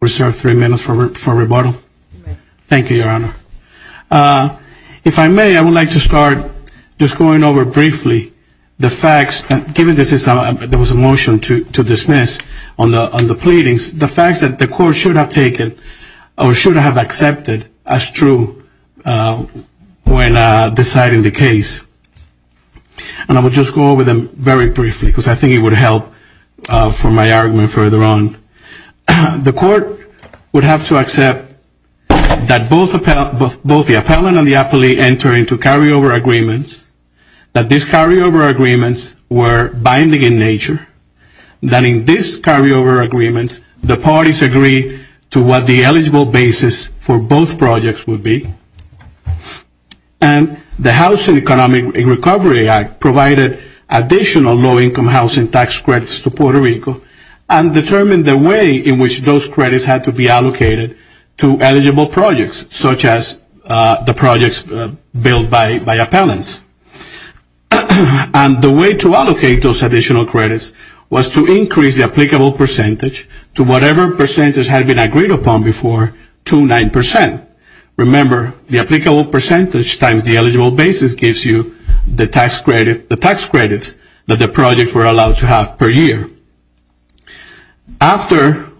Reserved three minutes for rebuttal? Thank you, Your Honor. If I may, I would like to start just going over briefly the facts, given there was a motion to dismiss on the pleadings, the facts that the court should have taken or should have accepted as true when deciding the case. And I will just go over them very briefly because I think it would help for my argument further on. The court would have to accept that both the appellant and the appellee enter into carryover agreements, that these carryover agreements were binding in nature, that in these carryover agreements the parties agreed to what the eligible basis for both projects would be. And the Housing and Economic Recovery Act provided additional low-income housing tax credits to Puerto Rico and determined the way in which those credits had to be allocated to eligible projects, such as the projects billed by appellants. And the way to allocate those additional credits was to increase the applicable percentage to whatever percentage had been agreed upon before to 9%. Remember, the applicable percentage times the eligible basis gives you the tax credits that the projects were allowed to have per year. After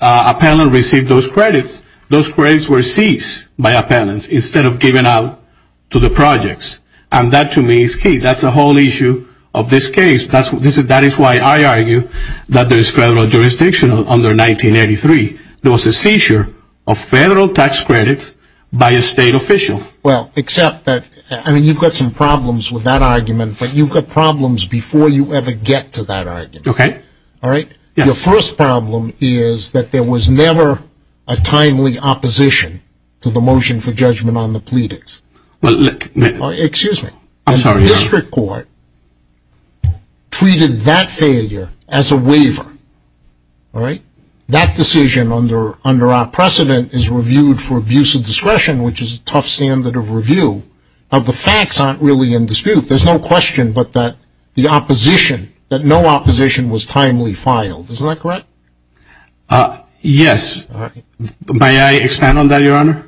appellant received those credits, those credits were seized by appellants instead of given out to the projects. And that to me is key. That's the whole issue of this case. That is why I argue that there is federal jurisdiction under 1983. There is, except that, I mean, you've got some problems with that argument, but you've got problems before you ever get to that argument. Your first problem is that there was never a timely opposition to the motion for judgment on the pleadings. And the district court treated that failure as a waiver. That decision under our precedent is reviewed for abuse of discretion, which is a tough standard of review. Now, the facts aren't really in dispute. There's no question but that the opposition, that no opposition was timely filed. Isn't that correct? Yes. May I expand on that, Your Honor?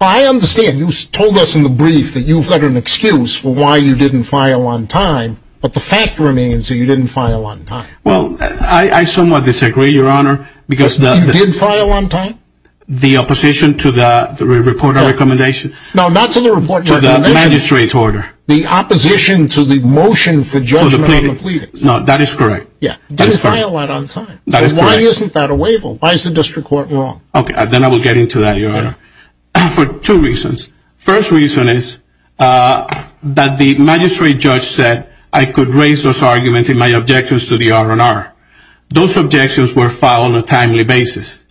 I understand. You told us in the brief that you've got an excuse for why you didn't file on time, but the fact remains that you didn't file on time. Well, I somewhat disagree, Your Honor, because the... You did file on time? The opposition to the report or recommendation? No, not to the report. To the magistrate's order. The opposition to the motion for judgment on the pleadings. No, that is correct. Yeah. You didn't file that on time. That is correct. Why isn't that a waiver? Why is the district court wrong? Okay, then I will get into that, Your Honor, for two reasons. The first reason is that the magistrate judge said I could raise those arguments in my objections to the R&R. Those objections were filed on a timely basis.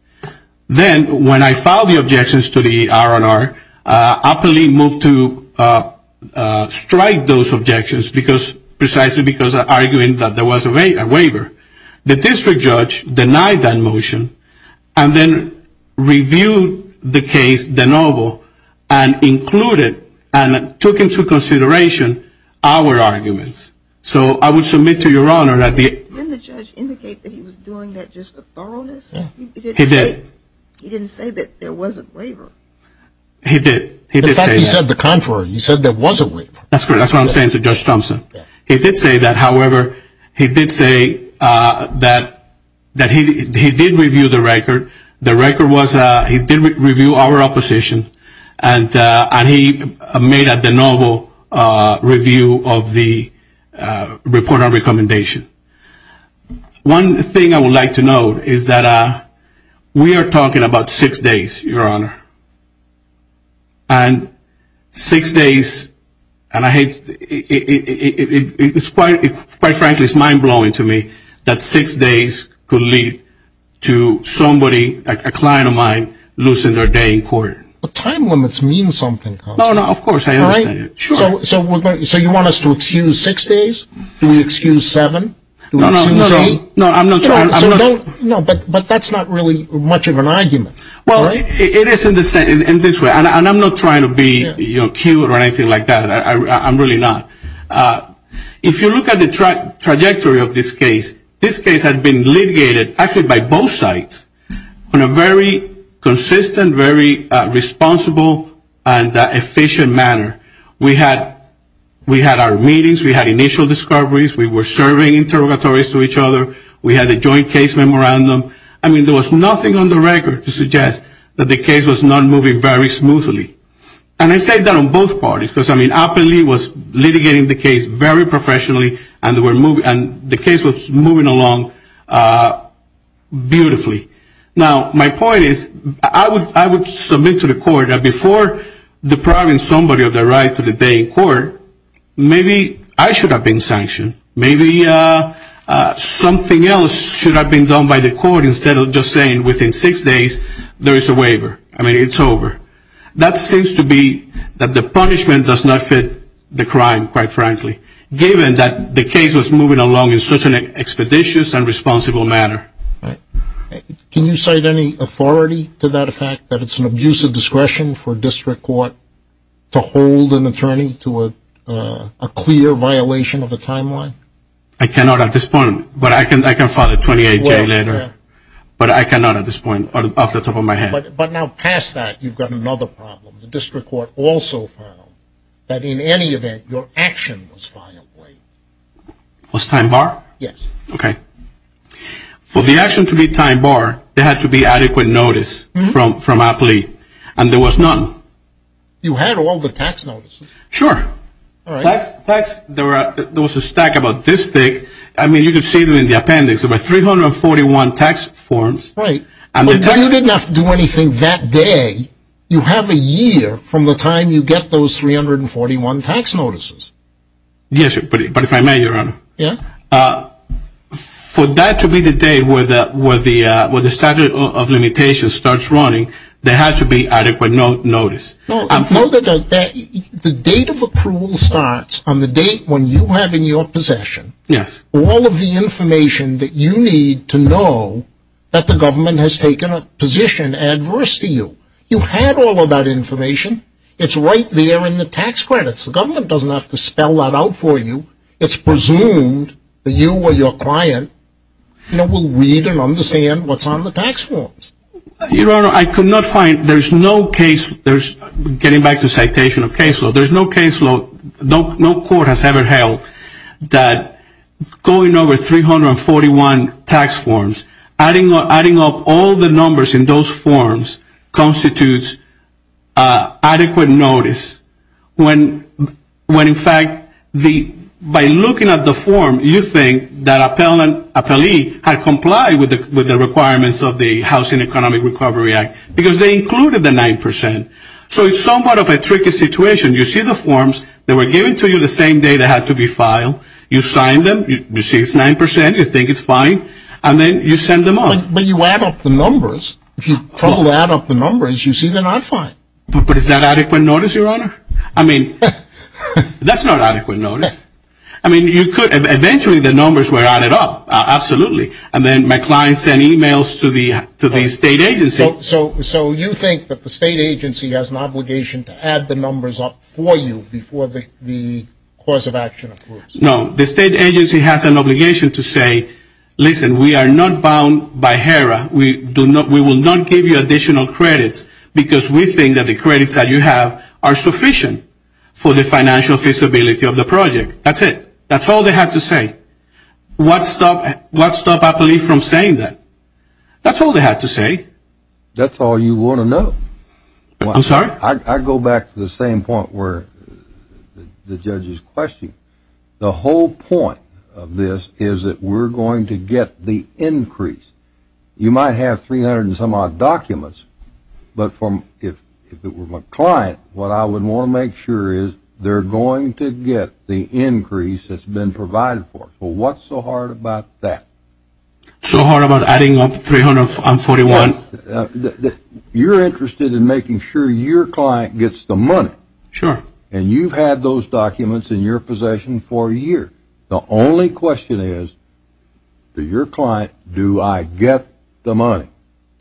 Then, when I filed the objections to the R&R, I quickly moved to strike those objections because... Precisely because of arguing that there was a waiver. The district judge denied that motion and then reviewed the case de novo and included and took into consideration our arguments. So, I would submit to Your Honor that the... Didn't the judge indicate that he was doing that just for thoroughness? He did. He didn't say that there was a waiver. He did. In fact, he said the contrary. He said there was a waiver. That's correct. That's what I'm saying to Judge Thompson. He did say that. However, he did say that he did review the record. The record was he did review our opposition and he made a de novo review of the report on recommendation. So, he did review the recommendation. One thing I would like to note is that we are talking about six days, Your Honor. And six days... And I hate... It's quite frankly, it's mind-blowing to me that six days could lead to somebody, a client of mine, losing their day in court. But time limits mean something, Congressman. No, no. Of course. I understand. So, you want us to excuse six days? Do we excuse seven? Do we excuse eight? No, I'm not trying... No, but that's not really much of an argument. Well, it is in this way. And I'm not trying to be cute or anything like that. I'm really not. If you look at the trajectory of this case, this case had been litigated actually by both sides in a very consistent, very responsible and efficient manner. We had our meetings. We had initial discoveries. We were serving interrogatories to each other. We had a joint case memorandum. I mean, there was nothing on the record to suggest that the case was not moving very smoothly. And I say that on both parties because, I mean, Appenly was litigating the case very professionally and the case was moving along beautifully. Now, my point is, I would... I would like to submit to the court that before depriving somebody of their right to debate in court, maybe I should have been sanctioned. Maybe something else should have been done by the court instead of just saying within six days there is a waiver. I mean, it's over. That seems to be that the punishment does not fit the crime, quite frankly, given that the case was moving along in such an expeditious and responsible manner. Can you cite any authority to that effect, that it's an abuse of discretion for a district court to hold an attorney to a clear violation of a timeline? I cannot at this point, but I can file a 28-day waiver. But I cannot at this point, off the top of my head. But now past that, you've got another problem. The district court also found that in any event your action was filed late. Was time barred? Yes. Okay. For the action to be time barred, there had to be adequate notice from a plea, and there was none. You had all the tax notices. Sure. All right. Tax... there was a stack about this thick. I mean, you could see them in the appendix. There were 341 tax forms. Right. And the tax... You didn't have to do anything that day. You have a year from the time you get those 341 tax notices. Yes, but if I may, Your Honor. Yes? For that to be the day where the statute of limitations starts running, there had to be adequate notice. No. I'm sorry. The date of approval starts on the date when you have in your possession all of the information that you need to know that the government has taken a position adverse to you. You had all of that information. It's right there in the tax credits. The government doesn't have to spell that out for you. It's presumed that you or your client, you know, will read and understand what's on the tax forms. Your Honor, I could not find... there's no case... there's... getting back to citation of case law, there's no case law... no court has ever held that going over 341 tax forms, adding up all the numbers in those forms constitutes adequate notice. When, in fact, by looking at the form, you think that an appellee had complied with the requirements of the Housing Economic Recovery Act because they included the 9%. So it's somewhat of a tricky situation. You see the forms. They were given to you the same day they had to be filed. You sign them. You see it's 9%. You think it's fine. And then you send them off. But you add up the numbers. If you trouble to add up the numbers, you see they're not fine. But is that adequate notice, Your Honor? I mean, that's not adequate notice. I mean, you could... eventually the numbers were added up. Absolutely. And then my client sent emails to the state agency. So you think that the state agency has an obligation to add the numbers up for you before the cause of action occurs? No. The state agency has an obligation to say, listen, we are not bound by HERA. We will not give you additional credits because we think that the credits that you have are sufficient for the financial feasibility of the project. That's it. That's all they had to say. What stopped an appellee from saying that? That's all they had to say. That's all you want to know? I'm sorry? I go back to the same point where the judge is questioning. The whole point of this is that we're going to get the increase. You might have 300 and some odd documents, but from... if it were my client, what I would want to make sure is they're going to get the increase that's been provided for us. Well, what's so hard about that? So hard about adding up 341? You're interested in making sure your client gets the money. Sure. And you've had those documents in your possession for a year. The only question is, to your client, do I get the money?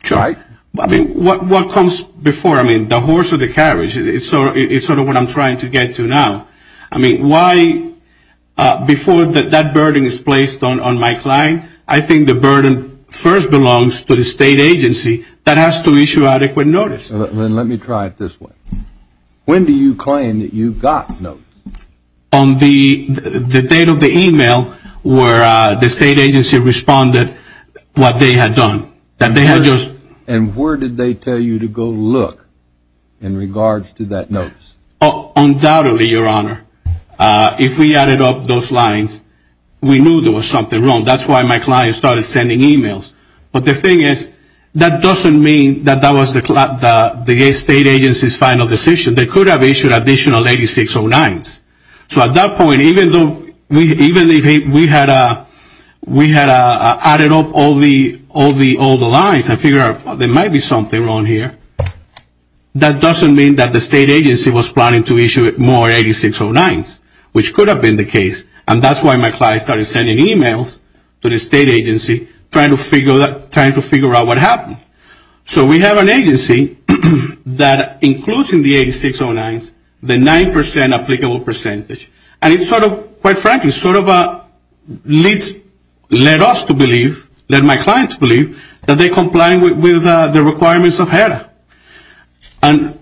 Sure. I mean, what comes before? I mean, the horse or the carriage? It's sort of what I'm trying to get to now. I mean, why... before that burden is placed on my client, I think the burden first belongs to the state agency that has to issue adequate notice. Then let me try it this way. When do you claim that you got notice? On the date of the email where the state agency responded what they had done. That they had just... And where did they tell you to go look in regards to that notice? Undoubtedly, Your Honor. If we added up those lines, we knew there was something wrong. That's why my client started sending emails. But the thing is, that doesn't mean that that was the state agency's final decision. They could have issued additional 8609s. So at that point, even though we had added up all the lines and figured out there might be something wrong here, that doesn't mean that the state agency was planning to issue more 8609s, which could have been the case. And that's why my client started sending emails to the state agency trying to figure out what happened. So we have an agency that includes in the 8609s the 9% applicable percentage. And it's sort of, quite frankly, sort of led us to believe, led my client to believe, that they I'm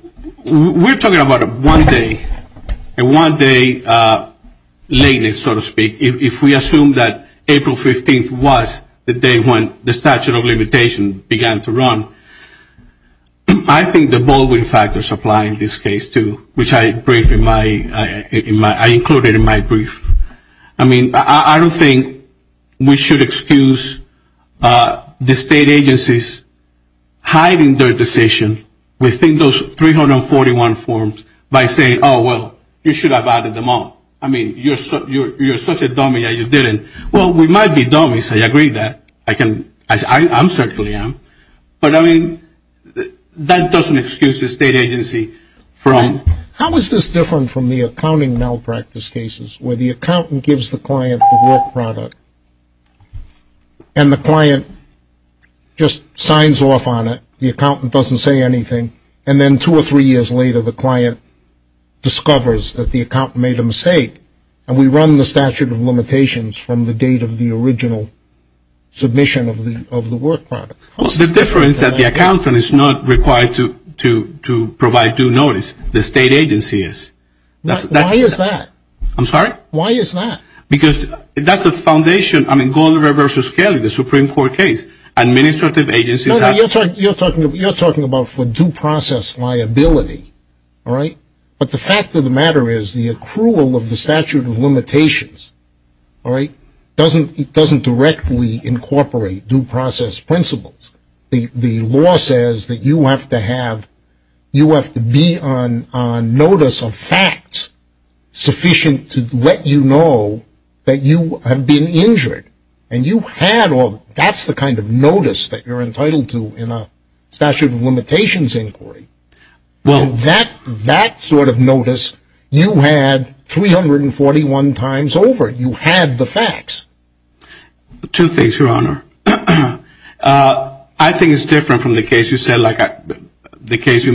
talking about a one-day, a one-day lateness, so to speak. If we assume that April 15th was the day when the statute of limitations began to run, I think the Baldwin factors apply in this case, too, which I included in my brief. I mean, I don't think we should excuse the state agencies hiding their decision within those 341 forms by saying, oh, well, you should have added them all. I mean, you're such a dummy that you didn't. Well, we might be dummies. I agree that. I can, I certainly am. But I mean, that doesn't excuse the state agency from How is this different from the accounting malpractice cases where the accountant gives the client the work product, and the client just signs off on it, the accountant doesn't say anything, and then two or three years later the client discovers that the accountant made a mistake, and we run the statute of limitations from the date of the original submission of the work product? Well, the difference is that the accountant is not required to provide due notice. The state agency is. Why is that? I'm sorry? Why is that? Because that's the foundation. I mean, Goldberg v. Scali, the Supreme Court case, administrative agencies have You're talking about for due process liability, all right? But the fact of the matter is the accrual of the statute of limitations, all right, doesn't directly incorporate due process principles. The law says that you have to have, you have to be on notice of facts sufficient to let you know that you have been injured, and you had all, that's the kind of notice that you're entitled to in a statute of limitations inquiry. Well And that sort of notice you had 341 times over. You had the facts. Two things, Your Honor. I think it's different from the case you said, like the case you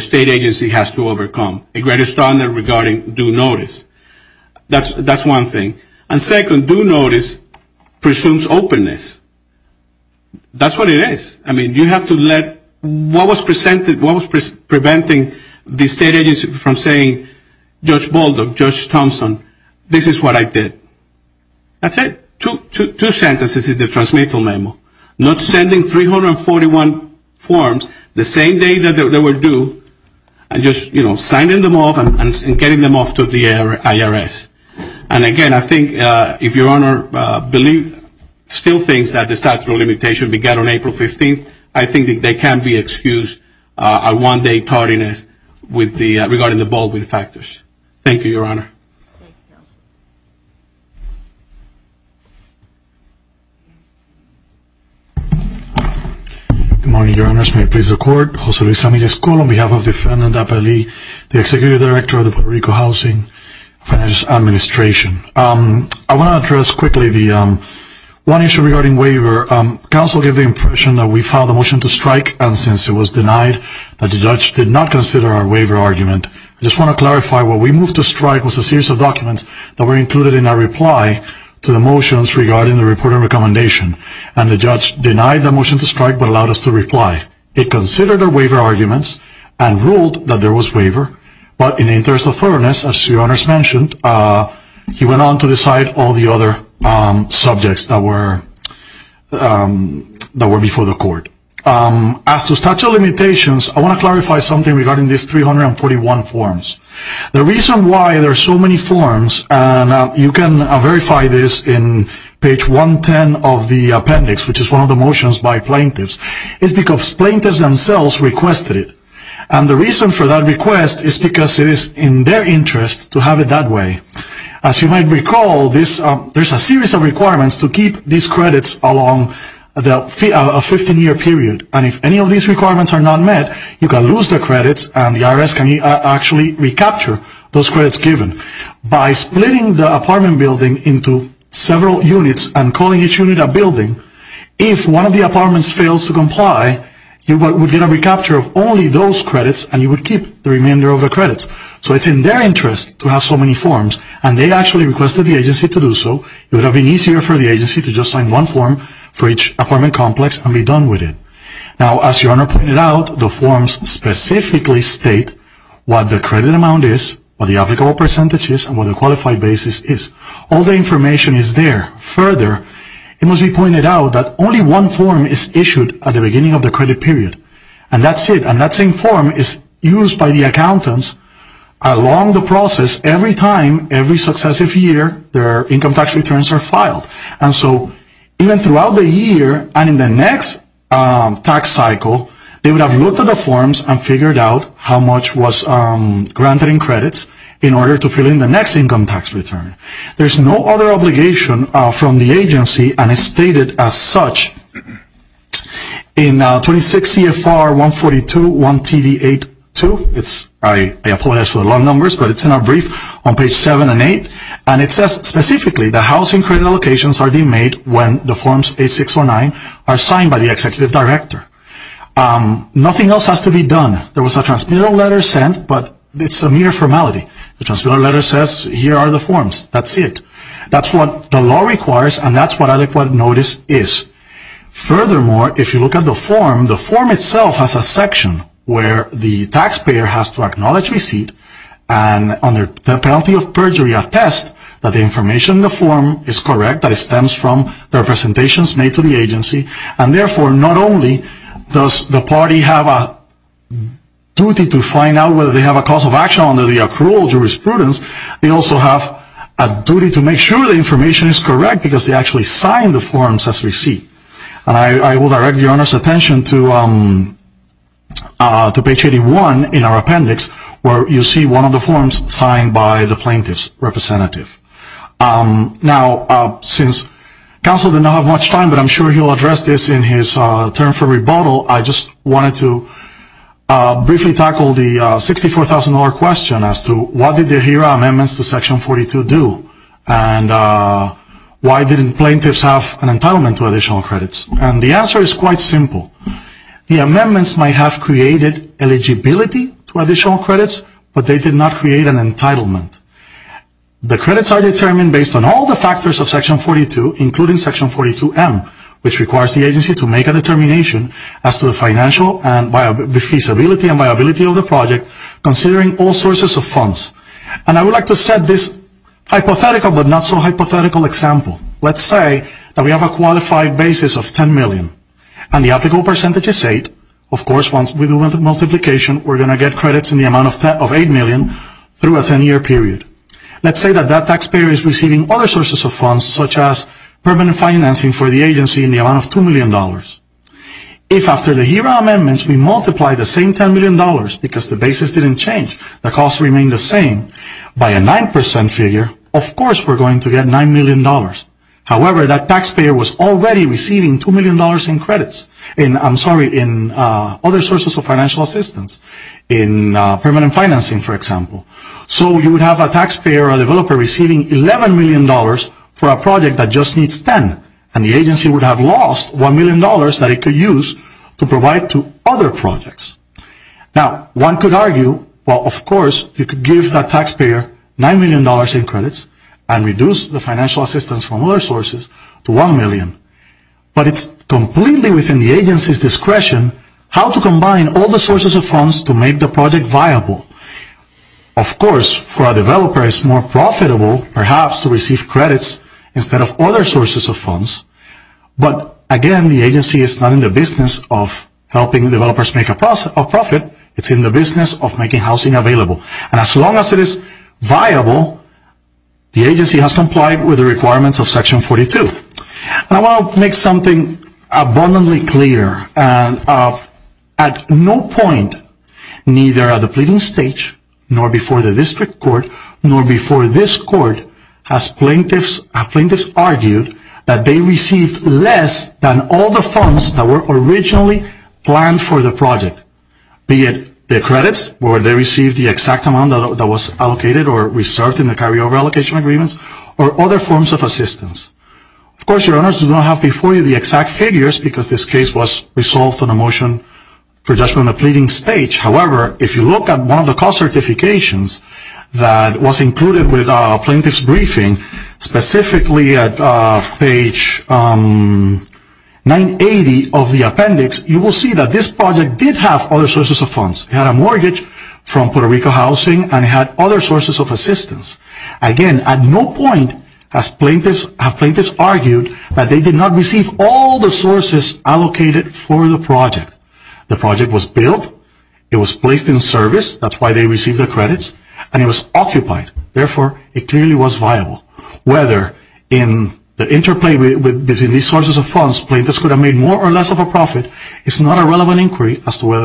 state agency has to overcome, a greater standard regarding due notice. That's one thing. And second, due notice presumes openness. That's what it is. I mean, you have to let what was presented, what was preventing the state agency from saying, Judge Bolden, Judge Thompson, this is what I did. That's it. Two sentences in the transmittal memo. Not sending 341 forms the same day that they were due, and just, you know, signing them off and getting them off to the IRS. And again, I think if Your Honor believe, still thinks that the statute of limitation began on April 15th, I think that they can be excused a one day tardiness with the, regarding the Baldwin factors. Thank you, Your Honor. Good morning, Your Honors. May it please the Court. Jose Luis Amiles Cull on behalf of the defendant, Aparalee, the Executive Director of the Puerto Rico Housing Finance Administration. I want to address quickly the one issue regarding waiver. Counsel gave the impression that we filed the motion to strike, and since it was denied, that the judge did not consider our series of documents that were included in our reply to the motions regarding the report and recommendation, and the judge denied the motion to strike, but allowed us to reply. It considered our waiver arguments, and ruled that there was waiver, but in the interest of fairness, as Your Honors mentioned, he went on to decide all the other subjects that were, that were before the Court. As to statute of limitations, I want to clarify something regarding these 341 forms. The reason why there are so many forms, and you can verify this in page 110 of the appendix, which is one of the motions by plaintiffs, is because plaintiffs themselves requested it, and the reason for that request is because it is in their interest to have it that way. As you might recall, there is a series of requirements to keep these credits along a 15-year period, and if any of these requirements are not met, you can lose the credits and the IRS can actually recapture those credits given by splitting the apartment building into several units and calling each unit a building. If one of the apartments fails to comply, you would get a recapture of only those credits, and you would keep the remainder of the credits. So it's in their interest to have so many forms, and they actually requested the agency to do so. It would have been easier for the agency to just sign one form for each apartment complex and be done with it. Now, as your Honor pointed out, the forms specifically state what the credit amount is, what the applicable percentage is, and what the qualified basis is. All the information is there. Further, it must be pointed out that only one form is issued at the beginning of the credit period, and that's it. And that same form is used by the accountants along the process every time, every successive year, their income tax returns are filed. And so, even throughout the year and in the next tax cycle, they would have looked at the forms and figured out how much was granted in credits in order to fill in the next income tax return. There's no other obligation from the agency, and it's stated as such in 26 CFR 142.1 TV 8.2. I apologize for the long numbers, but it's in our brief on page 7 and 8, and it says specifically that housing credit allocations are being made when the forms 8, 6, or 9 are signed by the executive director. Nothing else has to be done. There was a transmittal letter sent, but it's a mere formality. The transmittal letter says here are the forms. That's it. That's what the law requires, and that's what adequate notice is. Furthermore, if you look at the form, the form itself has a section where the taxpayer has to acknowledge receipt and under the penalty of perjury attest that the information in the form is correct, that it stems from representations made to the agency. And therefore, not only does the party have a duty to find out whether they have a cause of action under the accrual jurisprudence, they also have a duty to make sure the information is correct because they actually signed the forms as receipt. And I will direct the owner's attention to page 81 in our appendix where you see one of the forms signed by the plaintiff's representative. Now, since counsel did not have much time, but I'm sure he'll address this in his term for rebuttal, I just wanted to briefly tackle the $64,000 question as to what did the AHERA amendments to section 42 do, and why didn't plaintiffs have an entitlement to additional credits? And the answer is quite simple. The amendments might have created eligibility to additional credits, but they did not create an entitlement. The credits are determined based on all the factors of section 42, including section 42M, which requires the agency to make a determination as to the financial feasibility and viability of the project, considering all sources of funds. And I would like to set this hypothetical, but not so hypothetical example. Let's say that we have a qualified basis of $10 million, and the applicable percentage is 8. Of course, once we do the multiplication, we're going to get credits in the amount of $8 million through a 10-year period. Let's say that that taxpayer is receiving other sources of funds, such as permanent financing for the agency in the amount of $2 million. If after the AHERA amendments, we multiply the same $10 million, because the basis didn't change, the costs remain the same, by a 9% figure, of course we're going to get $9 million. However, that taxpayer was already receiving $2 million in credits, and I'm sorry, in other sources of financial assistance, in permanent financing, for example. So you would have a taxpayer, a developer, receiving $11 million for a project that just needs 10, and the agency would have lost $1 million that it could use to provide to other projects. Now, one could argue, well, of course, you could give that taxpayer $9 million in credits, and reduce the financial assistance from other sources to $1 million, but it's completely within the agency's discretion how to combine all the sources of funds to make the project viable. Of course, for a developer, it's more profitable, perhaps, to receive credits instead of other sources of funds, but again, the agency is not in the business of helping developers make a profit, it's in the business of making housing available, and as long as it is viable, the agency has complied with the requirements of Section 42. Now, I want to make something abundantly clear, and at no point, neither at the pleading stage, nor before the district court, nor before this court, have plaintiffs argued that they received less than all the funds that were originally planned for the the exact amount that was allocated or reserved in the carryover allocation agreements, or other forms of assistance. Of course, your owners do not have before you the exact figures, because this case was resolved on a motion for judgment at the pleading stage, however, if you look at one of the cost certifications that was included with plaintiff's briefing, specifically at page 980 of the appendix, you will see that this project did have other sources of funds. It had a mortgage from Puerto Rico Housing, and it had other sources of assistance. Again, at no point have plaintiffs argued that they did not receive all the sources allocated for the project. The project was built, it was placed in service, that's why they received the credits, and it was occupied, therefore, it clearly was viable. Whether in the interplay between these sources of funds, plaintiffs could have made more or less, whether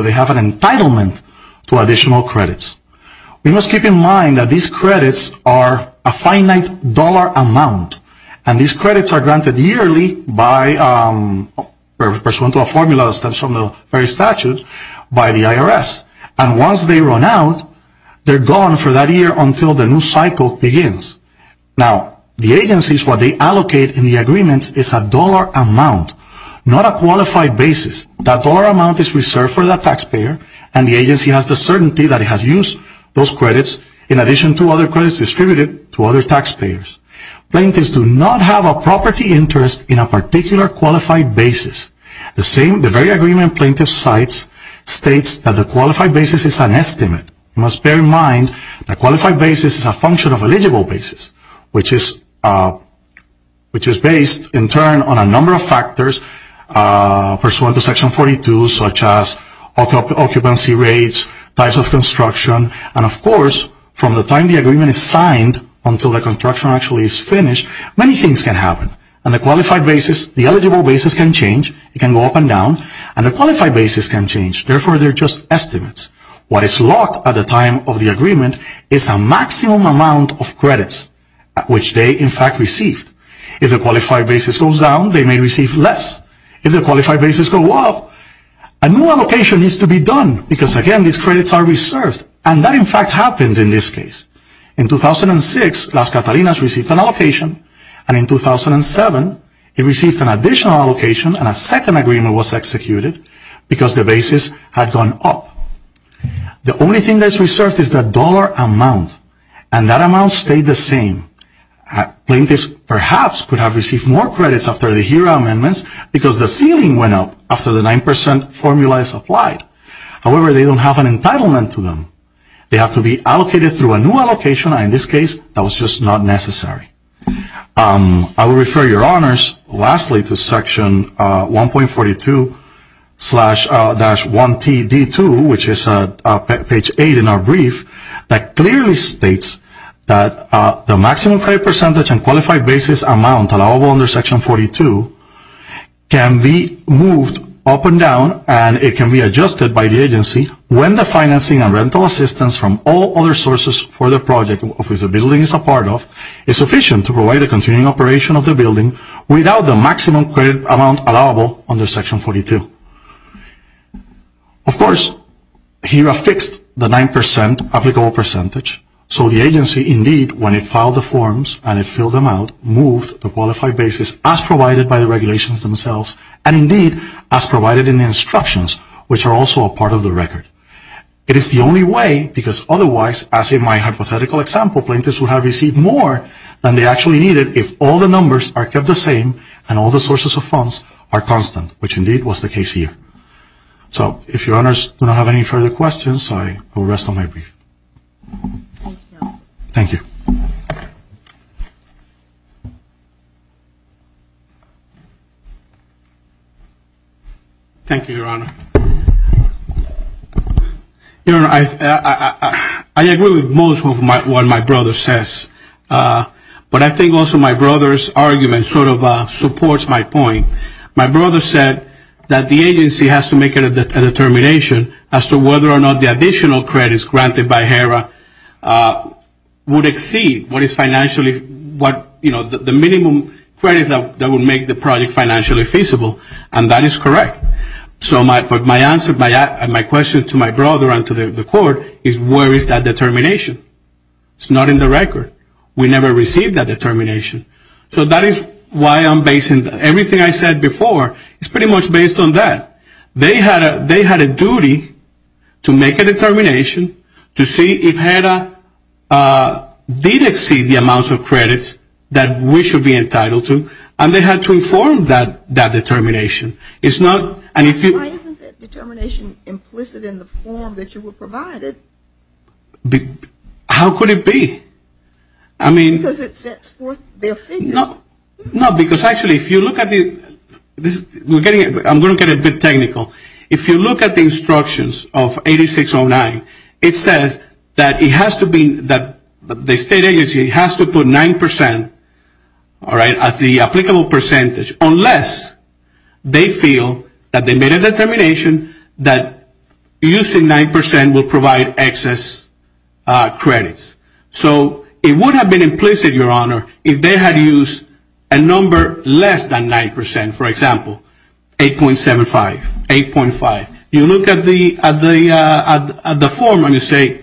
they have an entitlement to additional credits. We must keep in mind that these credits are a finite dollar amount, and these credits are granted yearly by, pursuant to a formula that stems from the very statute, by the IRS. And once they run out, they're gone for that year until the new cycle begins. Now, the agencies, what they allocate in the taxpayer, and the agency has the certainty that it has used those credits in addition to other credits distributed to other taxpayers. Plaintiffs do not have a property interest in a particular qualified basis. The same, the very agreement plaintiff cites states that the qualified basis is an estimate. You must bear in mind that qualified basis is a function of eligible basis, which is based, in turn, on a number of factors pursuant to occupancy rates, types of construction, and, of course, from the time the agreement is signed until the construction actually is finished, many things can happen. And the qualified basis, the eligible basis can change. It can go up and down, and the qualified basis can change. Therefore, they're just estimates. What is locked at the time of the agreement is a maximum amount of credits, which they, in fact, received. If the qualified basis goes down, they may receive less. If the qualified basis goes up, a new allocation needs to be done because, again, these credits are reserved, and that, in fact, happens in this case. In 2006, Las Catalinas received an allocation, and in 2007, it received an additional allocation, and a second agreement was executed because the basis had gone up. The only thing that's reserved is the dollar amount, and that amount stayed the same. Plaintiffs perhaps could have received more credits after the HERA amendments because the ceiling went up after the 9% formula is applied. However, they don't have an entitlement to them. They have to be allocated through a new allocation, and in this case, that was just not necessary. I will refer your honors, lastly, to Section 1.42-1TD2, which is page 8 in our brief, that the maximum credit percentage and qualified basis amount allowable under Section 42 can be moved up and down, and it can be adjusted by the agency when the financing and rental assistance from all other sources for the project of which the building is a part of is sufficient to provide a continuing operation of the building without the maximum credit amount allowable under Section 42. Of course, HERA fixed the 9% applicable percentage, so the agency, indeed, when it filed the forms and it filled them out, moved the qualified basis as provided by the regulations themselves, and indeed, as provided in the instructions, which are also a part of the record. It is the only way, because otherwise, as in my hypothetical example, plaintiffs would have received more than they actually needed if all the numbers are kept the same and all the sources of funds are constant, which indeed was the case here. So, if your honors do not have any further questions, I will rest on my brief. Thank you. Thank you, Your Honor. I agree with most of what my brother says, but I think also my brother's argument sort of supports my point. My brother said that the agency has to make a determination as to whether or not the additional credits granted by HERA would exceed the minimum credits that would make the project financially feasible, and that is correct. So, my question to my brother and to the Court is where is that determination? It is not in the record. We never received that determination. So, that is why everything I said before is pretty much based on that. They had a duty to make a determination to see if HERA did exceed the amount of credits that we should be entitled to, and they had to inform that determination. Why isn't that determination implicit in the form that you provided? How could it be? Because it sets forth their figures. No, because actually if you look at the, I am going to get a bit technical. If you look at the instructions of 8609, it says that it has to be, that the state agency has to put 9% as the applicable percentage unless they feel that they made a determination that using 9% will provide excess credits. So, it would have been implicit, Your Honor, if they had used a number less than 9%, for example, 8.75, 8.5. You look at the form and you say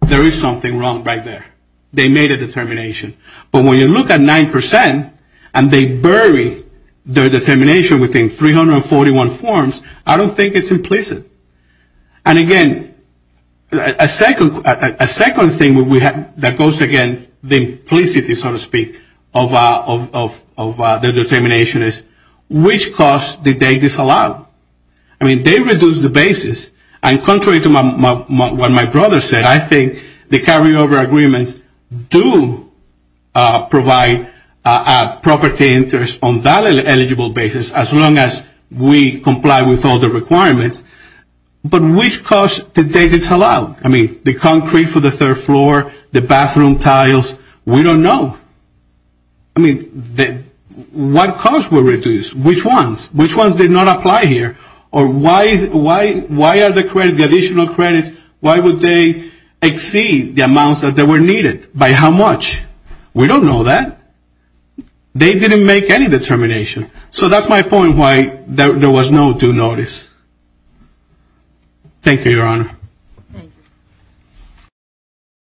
there is something wrong right there. They made a determination. But when you look at 9% and they bury their determination within 341 forms, I don't think it is implicit. And again, a second thing that goes against the implicit, so to speak, of the determination is which cost did they disallow? I mean, they reduced the basis. And contrary to what my brother said, I think the carryover agreements do provide property interest on that eligible basis as long as we comply with all the requirements. But which cost did they disallow? I mean, the concrete for the third floor, the bathroom tiles, we don't know. I mean, what cost were reduced? Which ones? Which ones did not apply here? Or why are the additional credits, why would they exceed the amounts that were needed? By how much? We don't know that. They didn't make any determination. So that's my point why there was no due notice. Thank you, Your Honor.